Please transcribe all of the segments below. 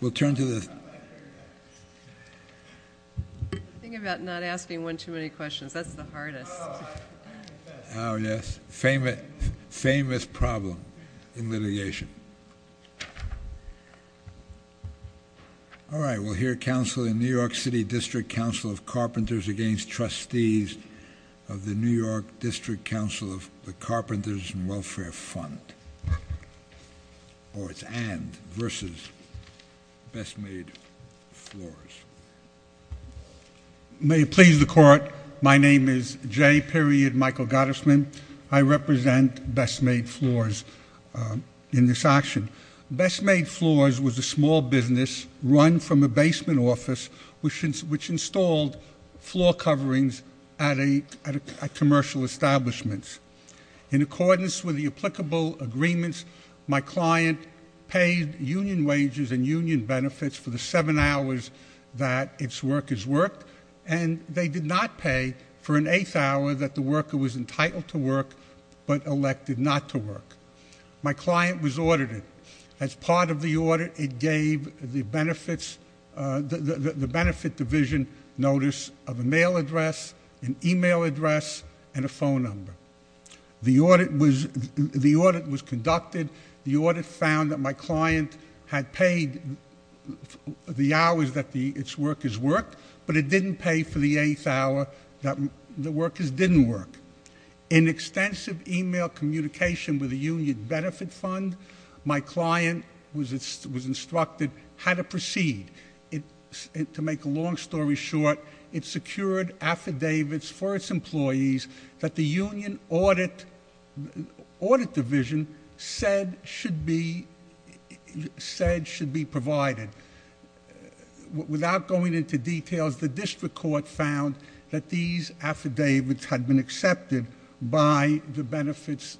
We'll turn to the famous, famous problem in litigation. All right, we'll hear council in New York City District Council of Carpenters Against Trustees of the New York District Council of the Carpenters and Welfare Fund. Or it's and, versus Best Made Floors. May it please the court, my name is J. Michael Gottesman. I represent Best Made Floors in this action. Best Made Floors was a small business run from a basement office which installed floor coverings at commercial establishments. In accordance with the applicable agreements, my client paid union wages and union benefits for the seven hours that its workers worked. And they did not pay for an eighth hour that the worker was entitled to work, but elected not to work. My client was audited. As part of the audit, it gave the benefit division notice of a mail address, an email address, and a phone number. The audit was conducted. The audit found that my client had paid the hours that its workers worked, but it didn't pay for the eighth hour that the workers didn't work. In extensive email communication with the union benefit fund, my client was instructed how to proceed. To make a long story short, it secured affidavits for its employees that the union audit division said should be provided. Without going into details, the district court found that these affidavits had been accepted by the benefits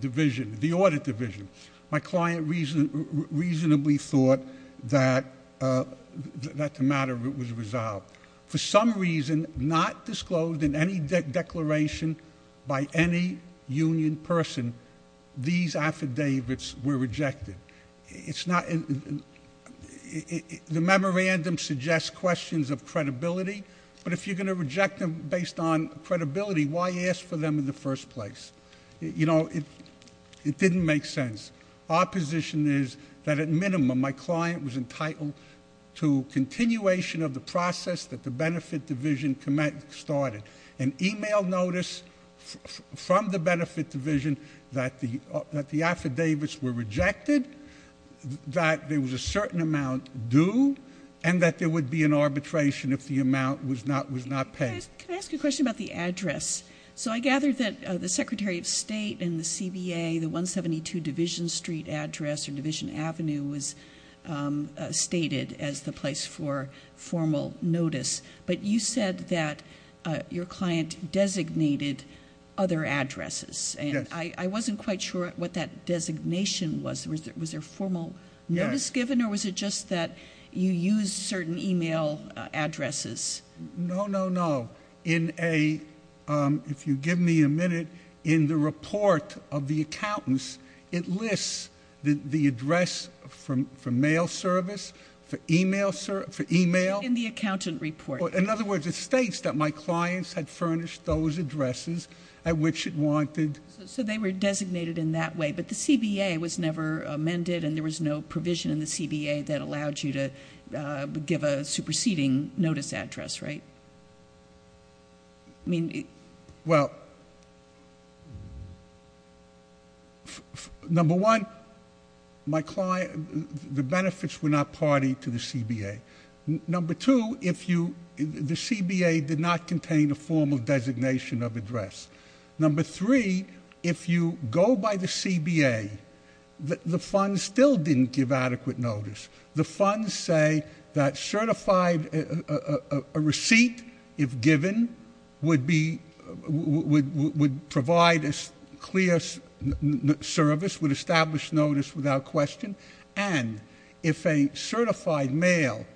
division, the audit division. My client reasonably thought that the matter was resolved. For some reason, not disclosed in any declaration by any union person, these affidavits were rejected. The memorandum suggests questions of credibility, but if you're going to reject them based on credibility, why ask for them in the first place? It didn't make sense. Our position is that at minimum, my client was entitled to continuation of the process that the benefit division started. An email notice from the benefit division that the affidavits were rejected, that there was a certain amount due, and that there would be an arbitration if the amount was not paid. Can I ask you a question about the address? So I gather that the Secretary of State and the CBA, the 172 Division Street address or Division Avenue was stated as the place for formal notice. But you said that your client designated other addresses. Yes. I wasn't quite sure what that designation was. Was there formal notice given? Yes. Or was it just that you used certain email addresses? No, no, no. If you give me a minute, in the report of the accountants, it lists the address for mail service, for email service, for email. In the accountant report. In other words, it states that my clients had furnished those addresses at which it wanted. So they were designated in that way, but the CBA was never amended, and there was no provision in the CBA that allowed you to give a superseding notice address, right? Well, number one, the benefits were not party to the CBA. Number two, the CBA did not contain a formal designation of address. Number three, if you go by the CBA, the funds still didn't give adequate notice. The funds say that a receipt, if given, would provide a clear service, would establish notice without question. And if a certified mail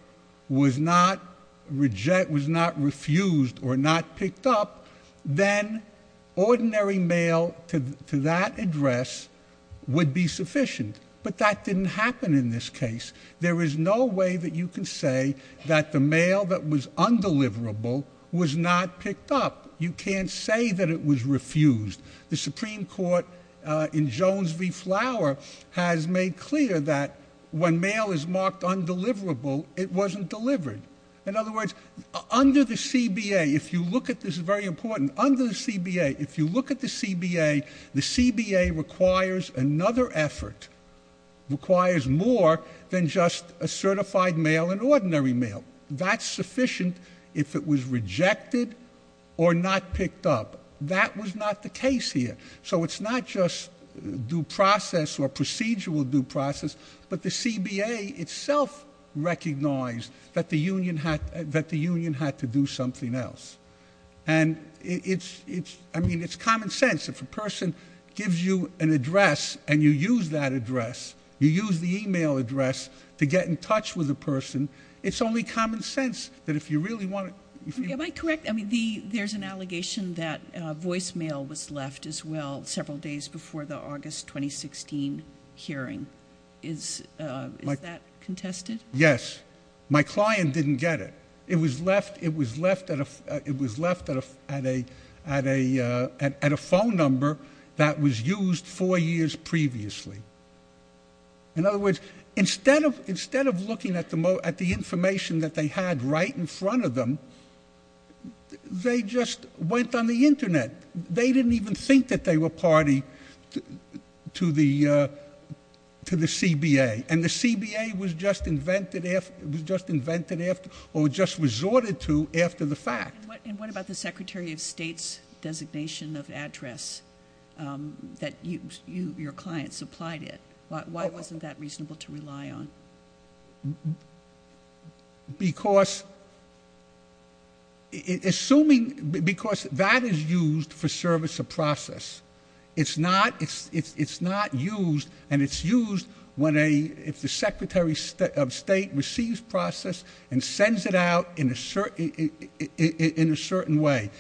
was not refused or not picked up, then ordinary mail to that address would be sufficient. But that didn't happen in this case. There is no way that you can say that the mail that was undeliverable was not picked up. You can't say that it was refused. The Supreme Court in Jones v. Flower has made clear that when mail is marked undeliverable, it wasn't delivered. In other words, under the CBA, if you look at this, this is very important, under the CBA, if you look at the CBA, the CBA requires another effort, requires more than just a certified mail and ordinary mail. That's sufficient if it was rejected or not picked up. But that was not the case here. So it's not just due process or procedural due process, but the CBA itself recognized that the union had to do something else. And it's common sense. If a person gives you an address and you use that address, you use the email address to get in touch with the person, it's only common sense that if you really want to ---- Am I correct? I mean, there's an allegation that voicemail was left as well several days before the August 2016 hearing. Is that contested? Yes. My client didn't get it. It was left at a phone number that was used four years previously. In other words, instead of looking at the information that they had right in front of them, they just went on the Internet. They didn't even think that they were party to the CBA. And the CBA was just invented after or just resorted to after the fact. And what about the Secretary of State's designation of address that your client supplied it? Why wasn't that reasonable to rely on? Because that is used for service of process. It's not used, and it's used if the Secretary of State receives process and sends it out in a certain way.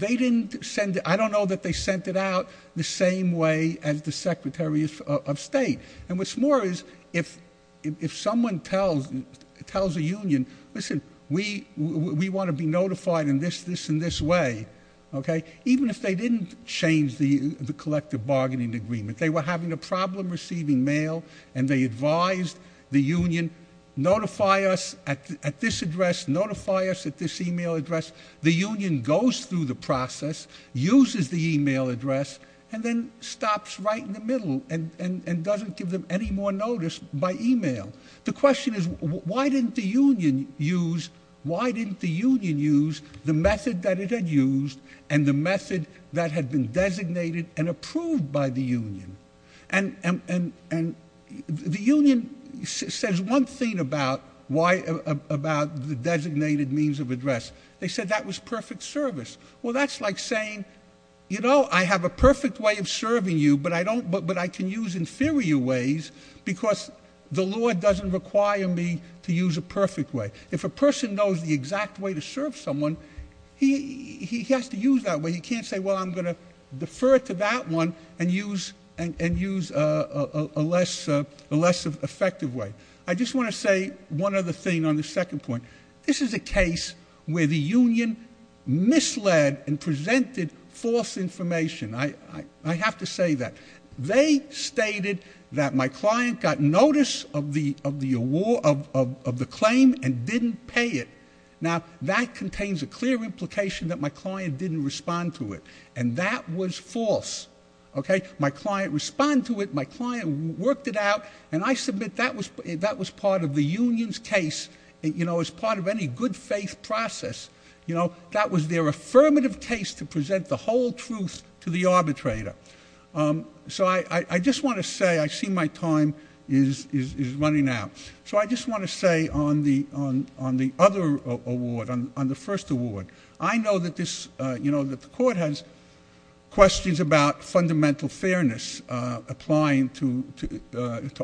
I don't know that they sent it out the same way as the Secretary of State. And what's more is if someone tells a union, listen, we want to be notified in this, this, and this way, okay? Even if they didn't change the collective bargaining agreement, they were having a problem receiving mail, and they advised the union, notify us at this address, notify us at this e-mail address. The union goes through the process, uses the e-mail address, and then stops right in the middle and doesn't give them any more notice by e-mail. The question is, why didn't the union use the method that it had used and the method that had been designated and approved by the union? And the union says one thing about the designated means of address. They said that was perfect service. Well, that's like saying, you know, I have a perfect way of serving you, but I can use inferior ways because the law doesn't require me to use a perfect way. If a person knows the exact way to serve someone, he has to use that way. He can't say, well, I'm going to defer to that one and use a less effective way. I just want to say one other thing on the second point. This is a case where the union misled and presented false information. I have to say that. They stated that my client got notice of the claim and didn't pay it. Now, that contains a clear implication that my client didn't respond to it, and that was false. Okay? My client responded to it. My client worked it out. And I submit that was part of the union's case, you know, as part of any good faith process. You know, that was their affirmative case to present the whole truth to the arbitrator. So I just want to say I see my time is running out. So I just want to say on the other award, on the first award, I know that this, you know, that the court has questions about fundamental fairness, applying to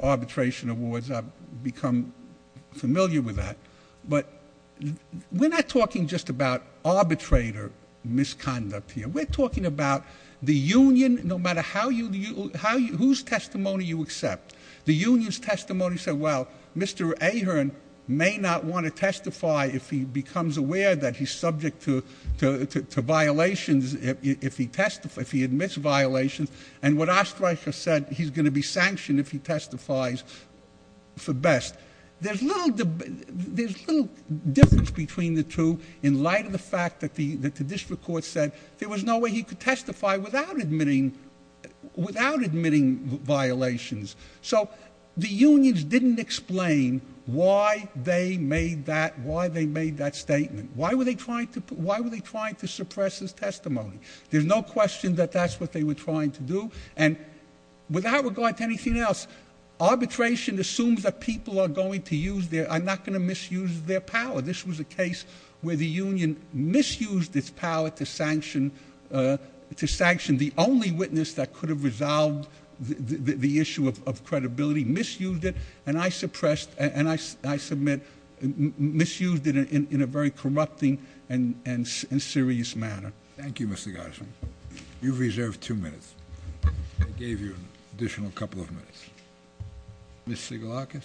arbitration awards. I've become familiar with that. But we're not talking just about arbitrator misconduct here. We're talking about the union, no matter whose testimony you accept. The union's testimony said, well, Mr. Ahearn may not want to testify if he becomes aware that he's subject to violations if he admits violations. And what Oesterreicher said, he's going to be sanctioned if he testifies for best. There's little difference between the two in light of the fact that the district court said there was no way he could testify without admitting violations. So the unions didn't explain why they made that statement. Why were they trying to suppress his testimony? There's no question that that's what they were trying to do. And without regard to anything else, arbitration assumes that people are going to use their, are not going to misuse their power. This was a case where the union misused its power to sanction the only witness that could have resolved the issue of credibility, misused it. And I suppressed, and I submit, misused it in a very corrupting and serious manner. Thank you, Mr. Gottesman. You've reserved two minutes. I gave you an additional couple of minutes. Ms. Sigalakis?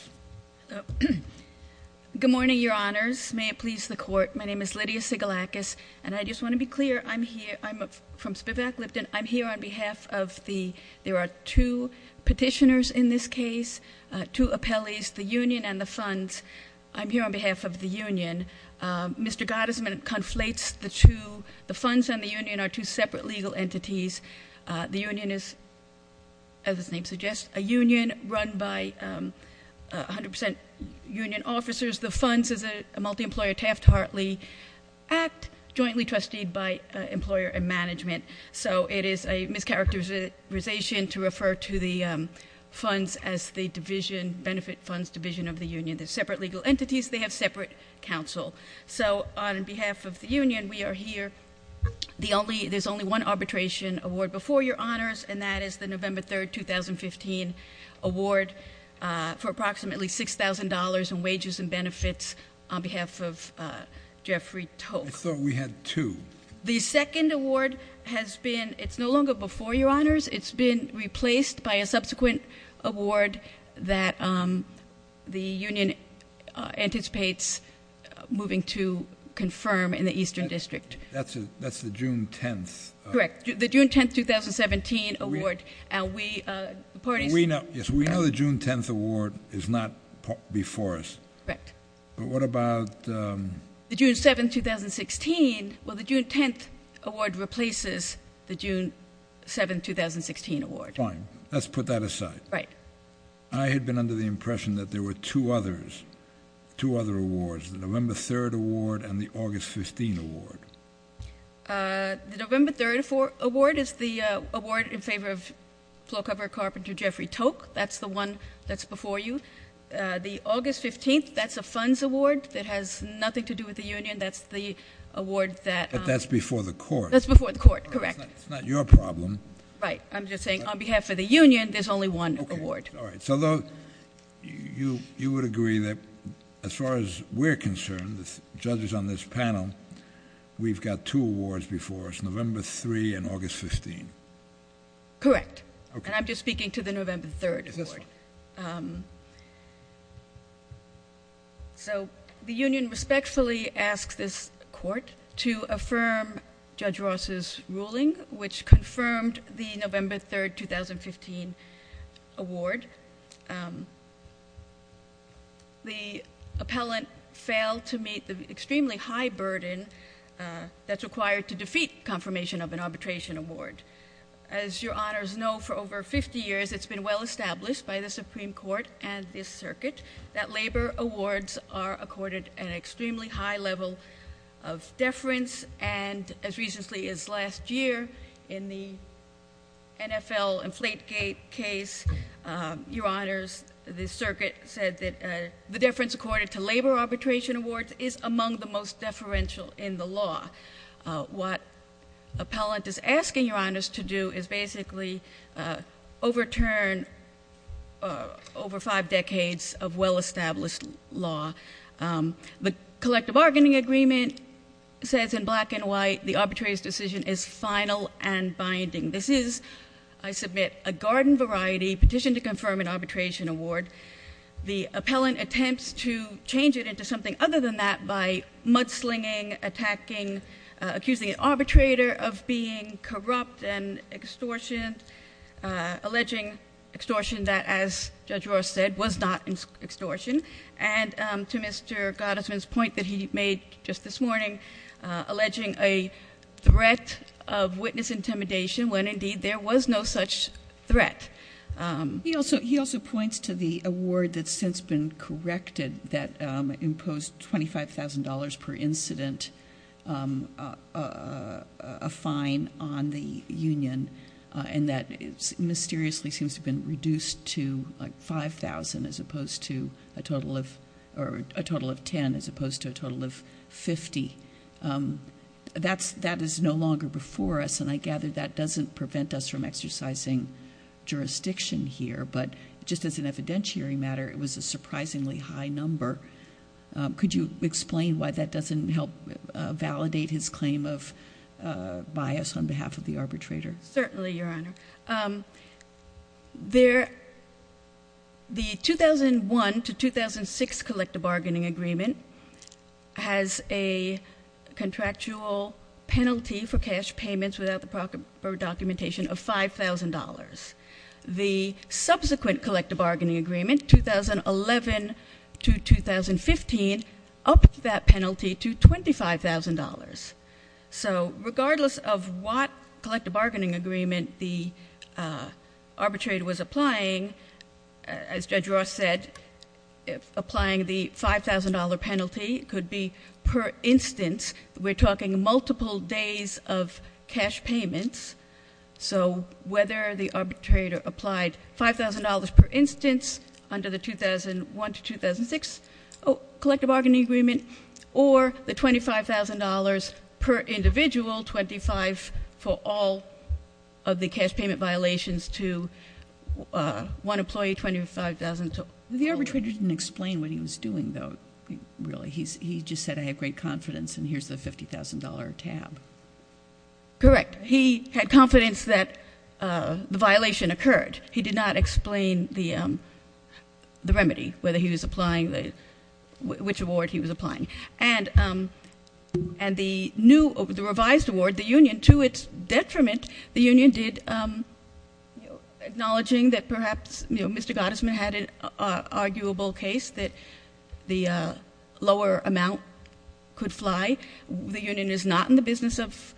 Good morning, your honors. May it please the court. My name is Lydia Sigalakis, and I just want to be clear. I'm here, I'm from Spivak Lipton. I'm here on behalf of the, there are two petitioners in this case, two appellees, the union and the funds. I'm here on behalf of the union. Mr. Gottesman conflates the two, the funds and the union are two separate legal entities. The union is, as its name suggests, a union run by 100% union officers. The funds is a multi-employer Taft Hartley Act, jointly trusted by employer and management. So it is a mischaracterization to refer to the funds as the division, benefit funds division of the union. They're separate legal entities. They have separate counsel. So on behalf of the union, we are here. The only, there's only one arbitration award before your honors, and that is the November 3rd, 2015 award for approximately $6,000 in wages and benefits on behalf of Jeffrey Tocque. I thought we had two. The second award has been, it's no longer before your honors. It's been replaced by a subsequent award that the union anticipates moving to confirm in the Eastern District. That's the June 10th. Correct. The June 10th, 2017 award. We know the June 10th award is not before us. Correct. But what about. The June 7th, 2016. Well, the June 10th award replaces the June 7th, 2016 award. Fine. Let's put that aside. Right. I had been under the impression that there were two others, two other awards, the November 3rd award and the August 15 award. The November 3rd award is the award in favor of floor-cover carpenter Jeffrey Tocque. That's the one that's before you. The August 15th, that's a funds award that has nothing to do with the union. That's the award that. But that's before the court. That's before the court. Correct. It's not your problem. Right. I'm just saying on behalf of the union, there's only one award. All right. So you would agree that as far as we're concerned, the judges on this panel, we've got two awards before us, November 3rd and August 15th. Correct. And I'm just speaking to the November 3rd award. So the union respectfully asks this court to affirm Judge Ross's ruling, which confirmed the November 3rd, 2015 award. The appellant failed to meet the extremely high burden that's required to defeat confirmation of an arbitration award. As your honors know, for over 50 years, it's been well established by the Supreme Court and this circuit, that labor awards are accorded an extremely high level of deference. And as recently as last year, in the NFL and Flategate case, your honors, the circuit said that the deference accorded to labor arbitration awards is among the most deferential in the law. What appellant is asking your honors to do is basically overturn over five decades of well-established law. The collective bargaining agreement says in black and white, the arbitrator's decision is final and binding. This is, I submit, a garden variety petition to confirm an arbitration award. The appellant attempts to change it into something other than that by mudslinging, attacking, accusing an arbitrator of being corrupt and extortion, alleging extortion that, as Judge Ross said, was not extortion. And to Mr. Gottesman's point that he made just this morning, alleging a threat of witness intimidation when indeed there was no such threat. He also points to the award that's since been corrected, that imposed $25,000 per incident, a fine on the union, and that mysteriously seems to have been reduced to 5,000, as opposed to a total of 10, as opposed to a total of 50. That is no longer before us, and I gather that doesn't prevent us from exercising jurisdiction here. But just as an evidentiary matter, it was a surprisingly high number. Could you explain why that doesn't help validate his claim of bias on behalf of the arbitrator? Certainly, Your Honor. The 2001 to 2006 collective bargaining agreement has a contractual penalty for cash payments without the proper documentation of $5,000. The subsequent collective bargaining agreement, 2011 to 2015, upped that penalty to $25,000. So regardless of what collective bargaining agreement the arbitrator was applying, as Judge Ross said, applying the $5,000 penalty could be per instance. We're talking multiple days of cash payments. So whether the arbitrator applied $5,000 per instance under the 2001 to 2006 collective bargaining agreement, or the $25,000 per individual, 25 for all of the cash payment violations to one employee, 25,000 total. The arbitrator didn't explain what he was doing, though, really. He just said, I have great confidence, and here's the $50,000 tab. Correct. He had confidence that the violation occurred. He did not explain the remedy, whether he was applying, which award he was applying. And the revised award, the union, to its detriment, the union did, acknowledging that perhaps Mr. Gottesman had an arguable case that the lower amount could fly. The union is not in the business of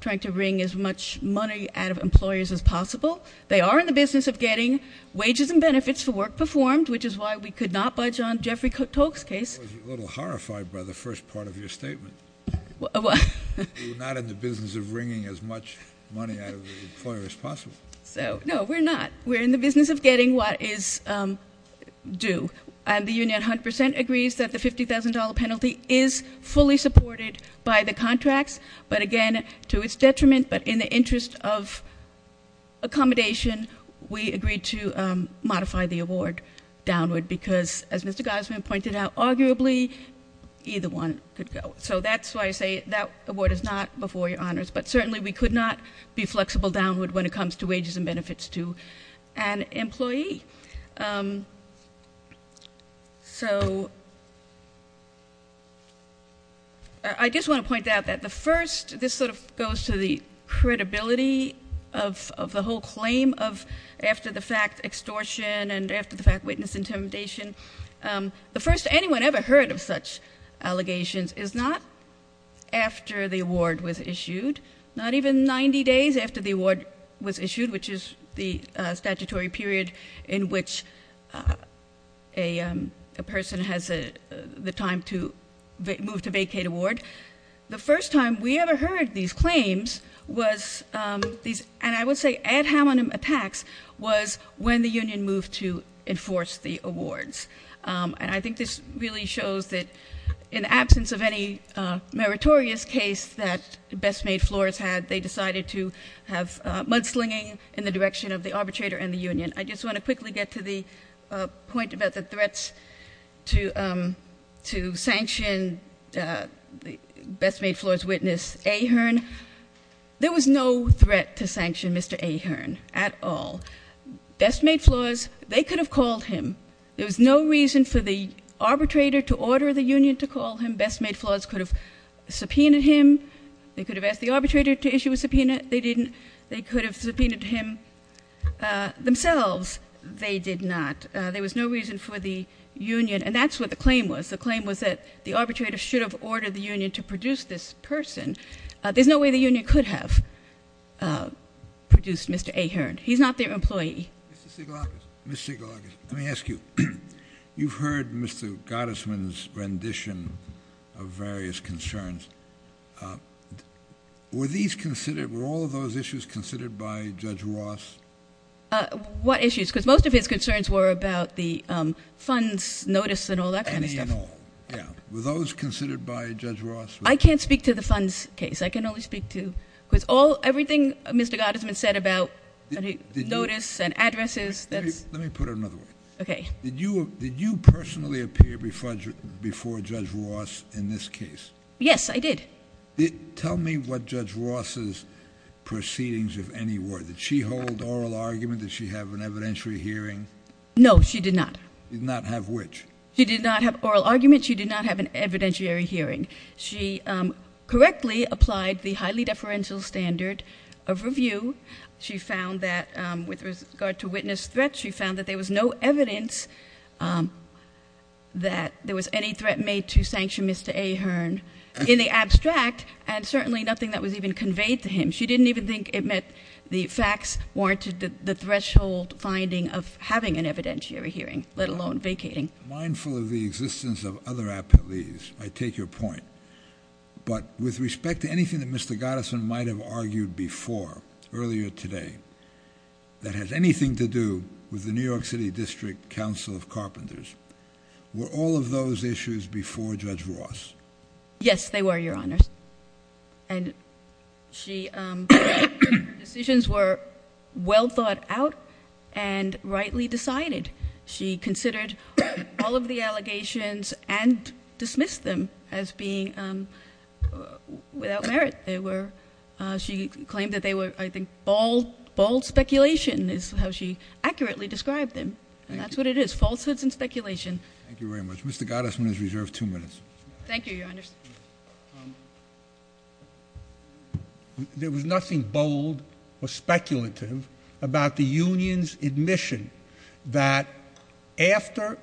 trying to wring as much money out of employers as possible. They are in the business of getting wages and benefits for work performed, which is why we could not budge on Jeffrey Tolk's case. I was a little horrified by the first part of your statement. You're not in the business of wringing as much money out of the employer as possible. No, we're not. We're in the business of getting what is due. And the union 100% agrees that the $50,000 penalty is fully supported by the contracts. But again, to its detriment, but in the interest of accommodation, we agreed to modify the award downward because, as Mr. Gottesman pointed out, arguably, either one could go. So that's why I say that award is not before your honors. But certainly, we could not be flexible downward when it comes to wages and benefits to an employee. So I just want to point out that the first, this sort of goes to the credibility of the whole claim of after-the-fact extortion and after-the-fact witness intimidation. The first anyone ever heard of such allegations is not after the award was issued, not even 90 days after the award was issued, which is the statutory period in which a person has the time to move to vacate a ward. The first time we ever heard these claims was, and I would say ad hominem attacks, was when the union moved to enforce the awards. And I think this really shows that in the absence of any meritorious case that Best Made Floors had, they decided to have mudslinging in the direction of the arbitrator and the union. I just want to quickly get to the point about the threats to sanction Best Made Floors witness Ahern. There was no threat to sanction Mr. Ahern at all. Best Made Floors, they could have called him. There was no reason for the arbitrator to order the union to call him. Best Made Floors could have subpoenaed him. They could have asked the arbitrator to issue a subpoena. They didn't. They could have subpoenaed him themselves. They did not. There was no reason for the union. And that's what the claim was. The claim was that the arbitrator should have ordered the union to produce this person. There's no way the union could have produced Mr. Ahern. He's not their employee. Mr. Sigelakis, let me ask you. You've heard Mr. Gottesman's rendition of various concerns. Were all of those issues considered by Judge Ross? What issues? Because most of his concerns were about the funds, notice, and all that kind of stuff. Any and all. Yeah. Were those considered by Judge Ross? I can't speak to the funds case. I can only speak to everything Mr. Gottesman said about notice and addresses. Let me put it another way. Okay. Did you personally appear before Judge Ross in this case? Yes, I did. Tell me what Judge Ross's proceedings, if any, were. Did she hold oral argument? Did she have an evidentiary hearing? No, she did not. Did not have which? She did not have oral argument. She did not have an evidentiary hearing. She correctly applied the highly deferential standard of review. She found that with regard to witness threats, she found that there was no evidence that there was any threat made to sanction Mr. Ahern in the abstract and certainly nothing that was even conveyed to him. She didn't even think it meant the facts warranted the threshold finding of having an evidentiary hearing, let alone vacating. Mindful of the existence of other appellees, I take your point. But with respect to anything that Mr. Gottesman might have argued before, earlier today, that has anything to do with the New York City District Council of Carpenters, were all of those issues before Judge Ross? Yes, they were, Your Honors. And decisions were well thought out and rightly decided. She considered all of the allegations and dismissed them as being without merit. She claimed that they were, I think, bald speculation is how she accurately described them. And that's what it is, falsehoods and speculation. Thank you very much. Mr. Gottesman is reserved two minutes. Thank you, Your Honors. There was nothing bold or speculative about the union's admission that after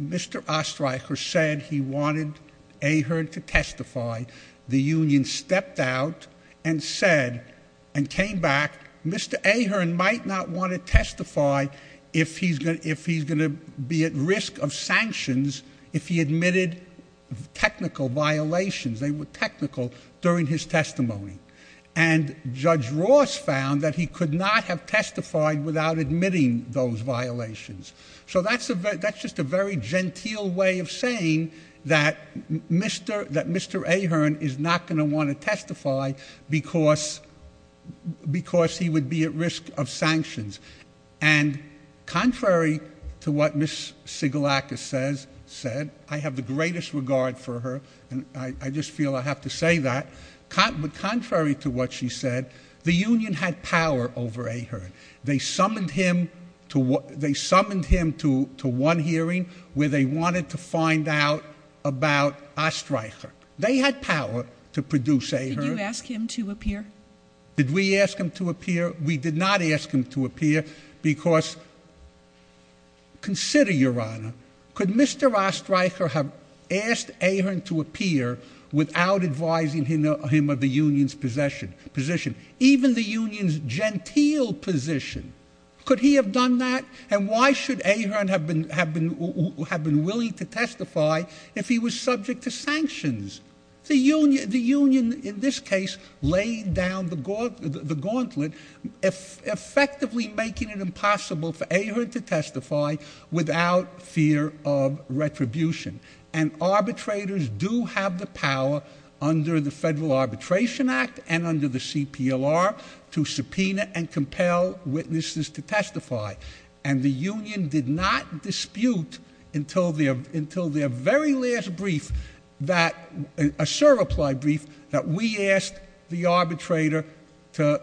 Mr. Ostreicher said he wanted Ahern to testify, the union stepped out and said, and came back, Mr. Ahern might not want to testify if he's going to be at risk of sanctions if he admitted technical violations. They were technical during his testimony. And Judge Ross found that he could not have testified without admitting those violations. So that's just a very genteel way of saying that Mr. Ahern is not going to want to testify because he would be at risk of sanctions. And contrary to what Ms. Sigalakis said, I have the greatest regard for her, and I just feel I have to say that, but contrary to what she said, the union had power over Ahern. They summoned him to one hearing where they wanted to find out about Ostreicher. They had power to produce Ahern. Did you ask him to appear? Did we ask him to appear? We did not ask him to appear because, consider, Your Honor, could Mr. Ostreicher have asked Ahern to appear without advising him of the union's position? Even the union's genteel position? Could he have done that? And why should Ahern have been willing to testify if he was subject to sanctions? The union, in this case, laid down the gauntlet, effectively making it impossible for Ahern to testify without fear of retribution. And arbitrators do have the power under the Federal Arbitration Act and under the CPLR to subpoena and compel witnesses to testify. And the union did not dispute until their very last brief, a serve-applied brief, that we asked the arbitrator to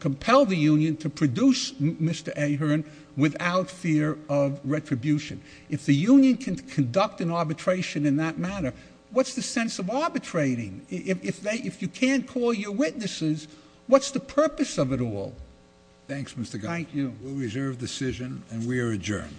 compel the union to produce Mr. Ahern without fear of retribution. If the union can conduct an arbitration in that manner, what's the sense of arbitrating? If you can't call your witnesses, what's the purpose of it all? Thanks, Mr. Gottfried. Thank you. We'll reserve decision, and we are adjourned. Court is adjourned.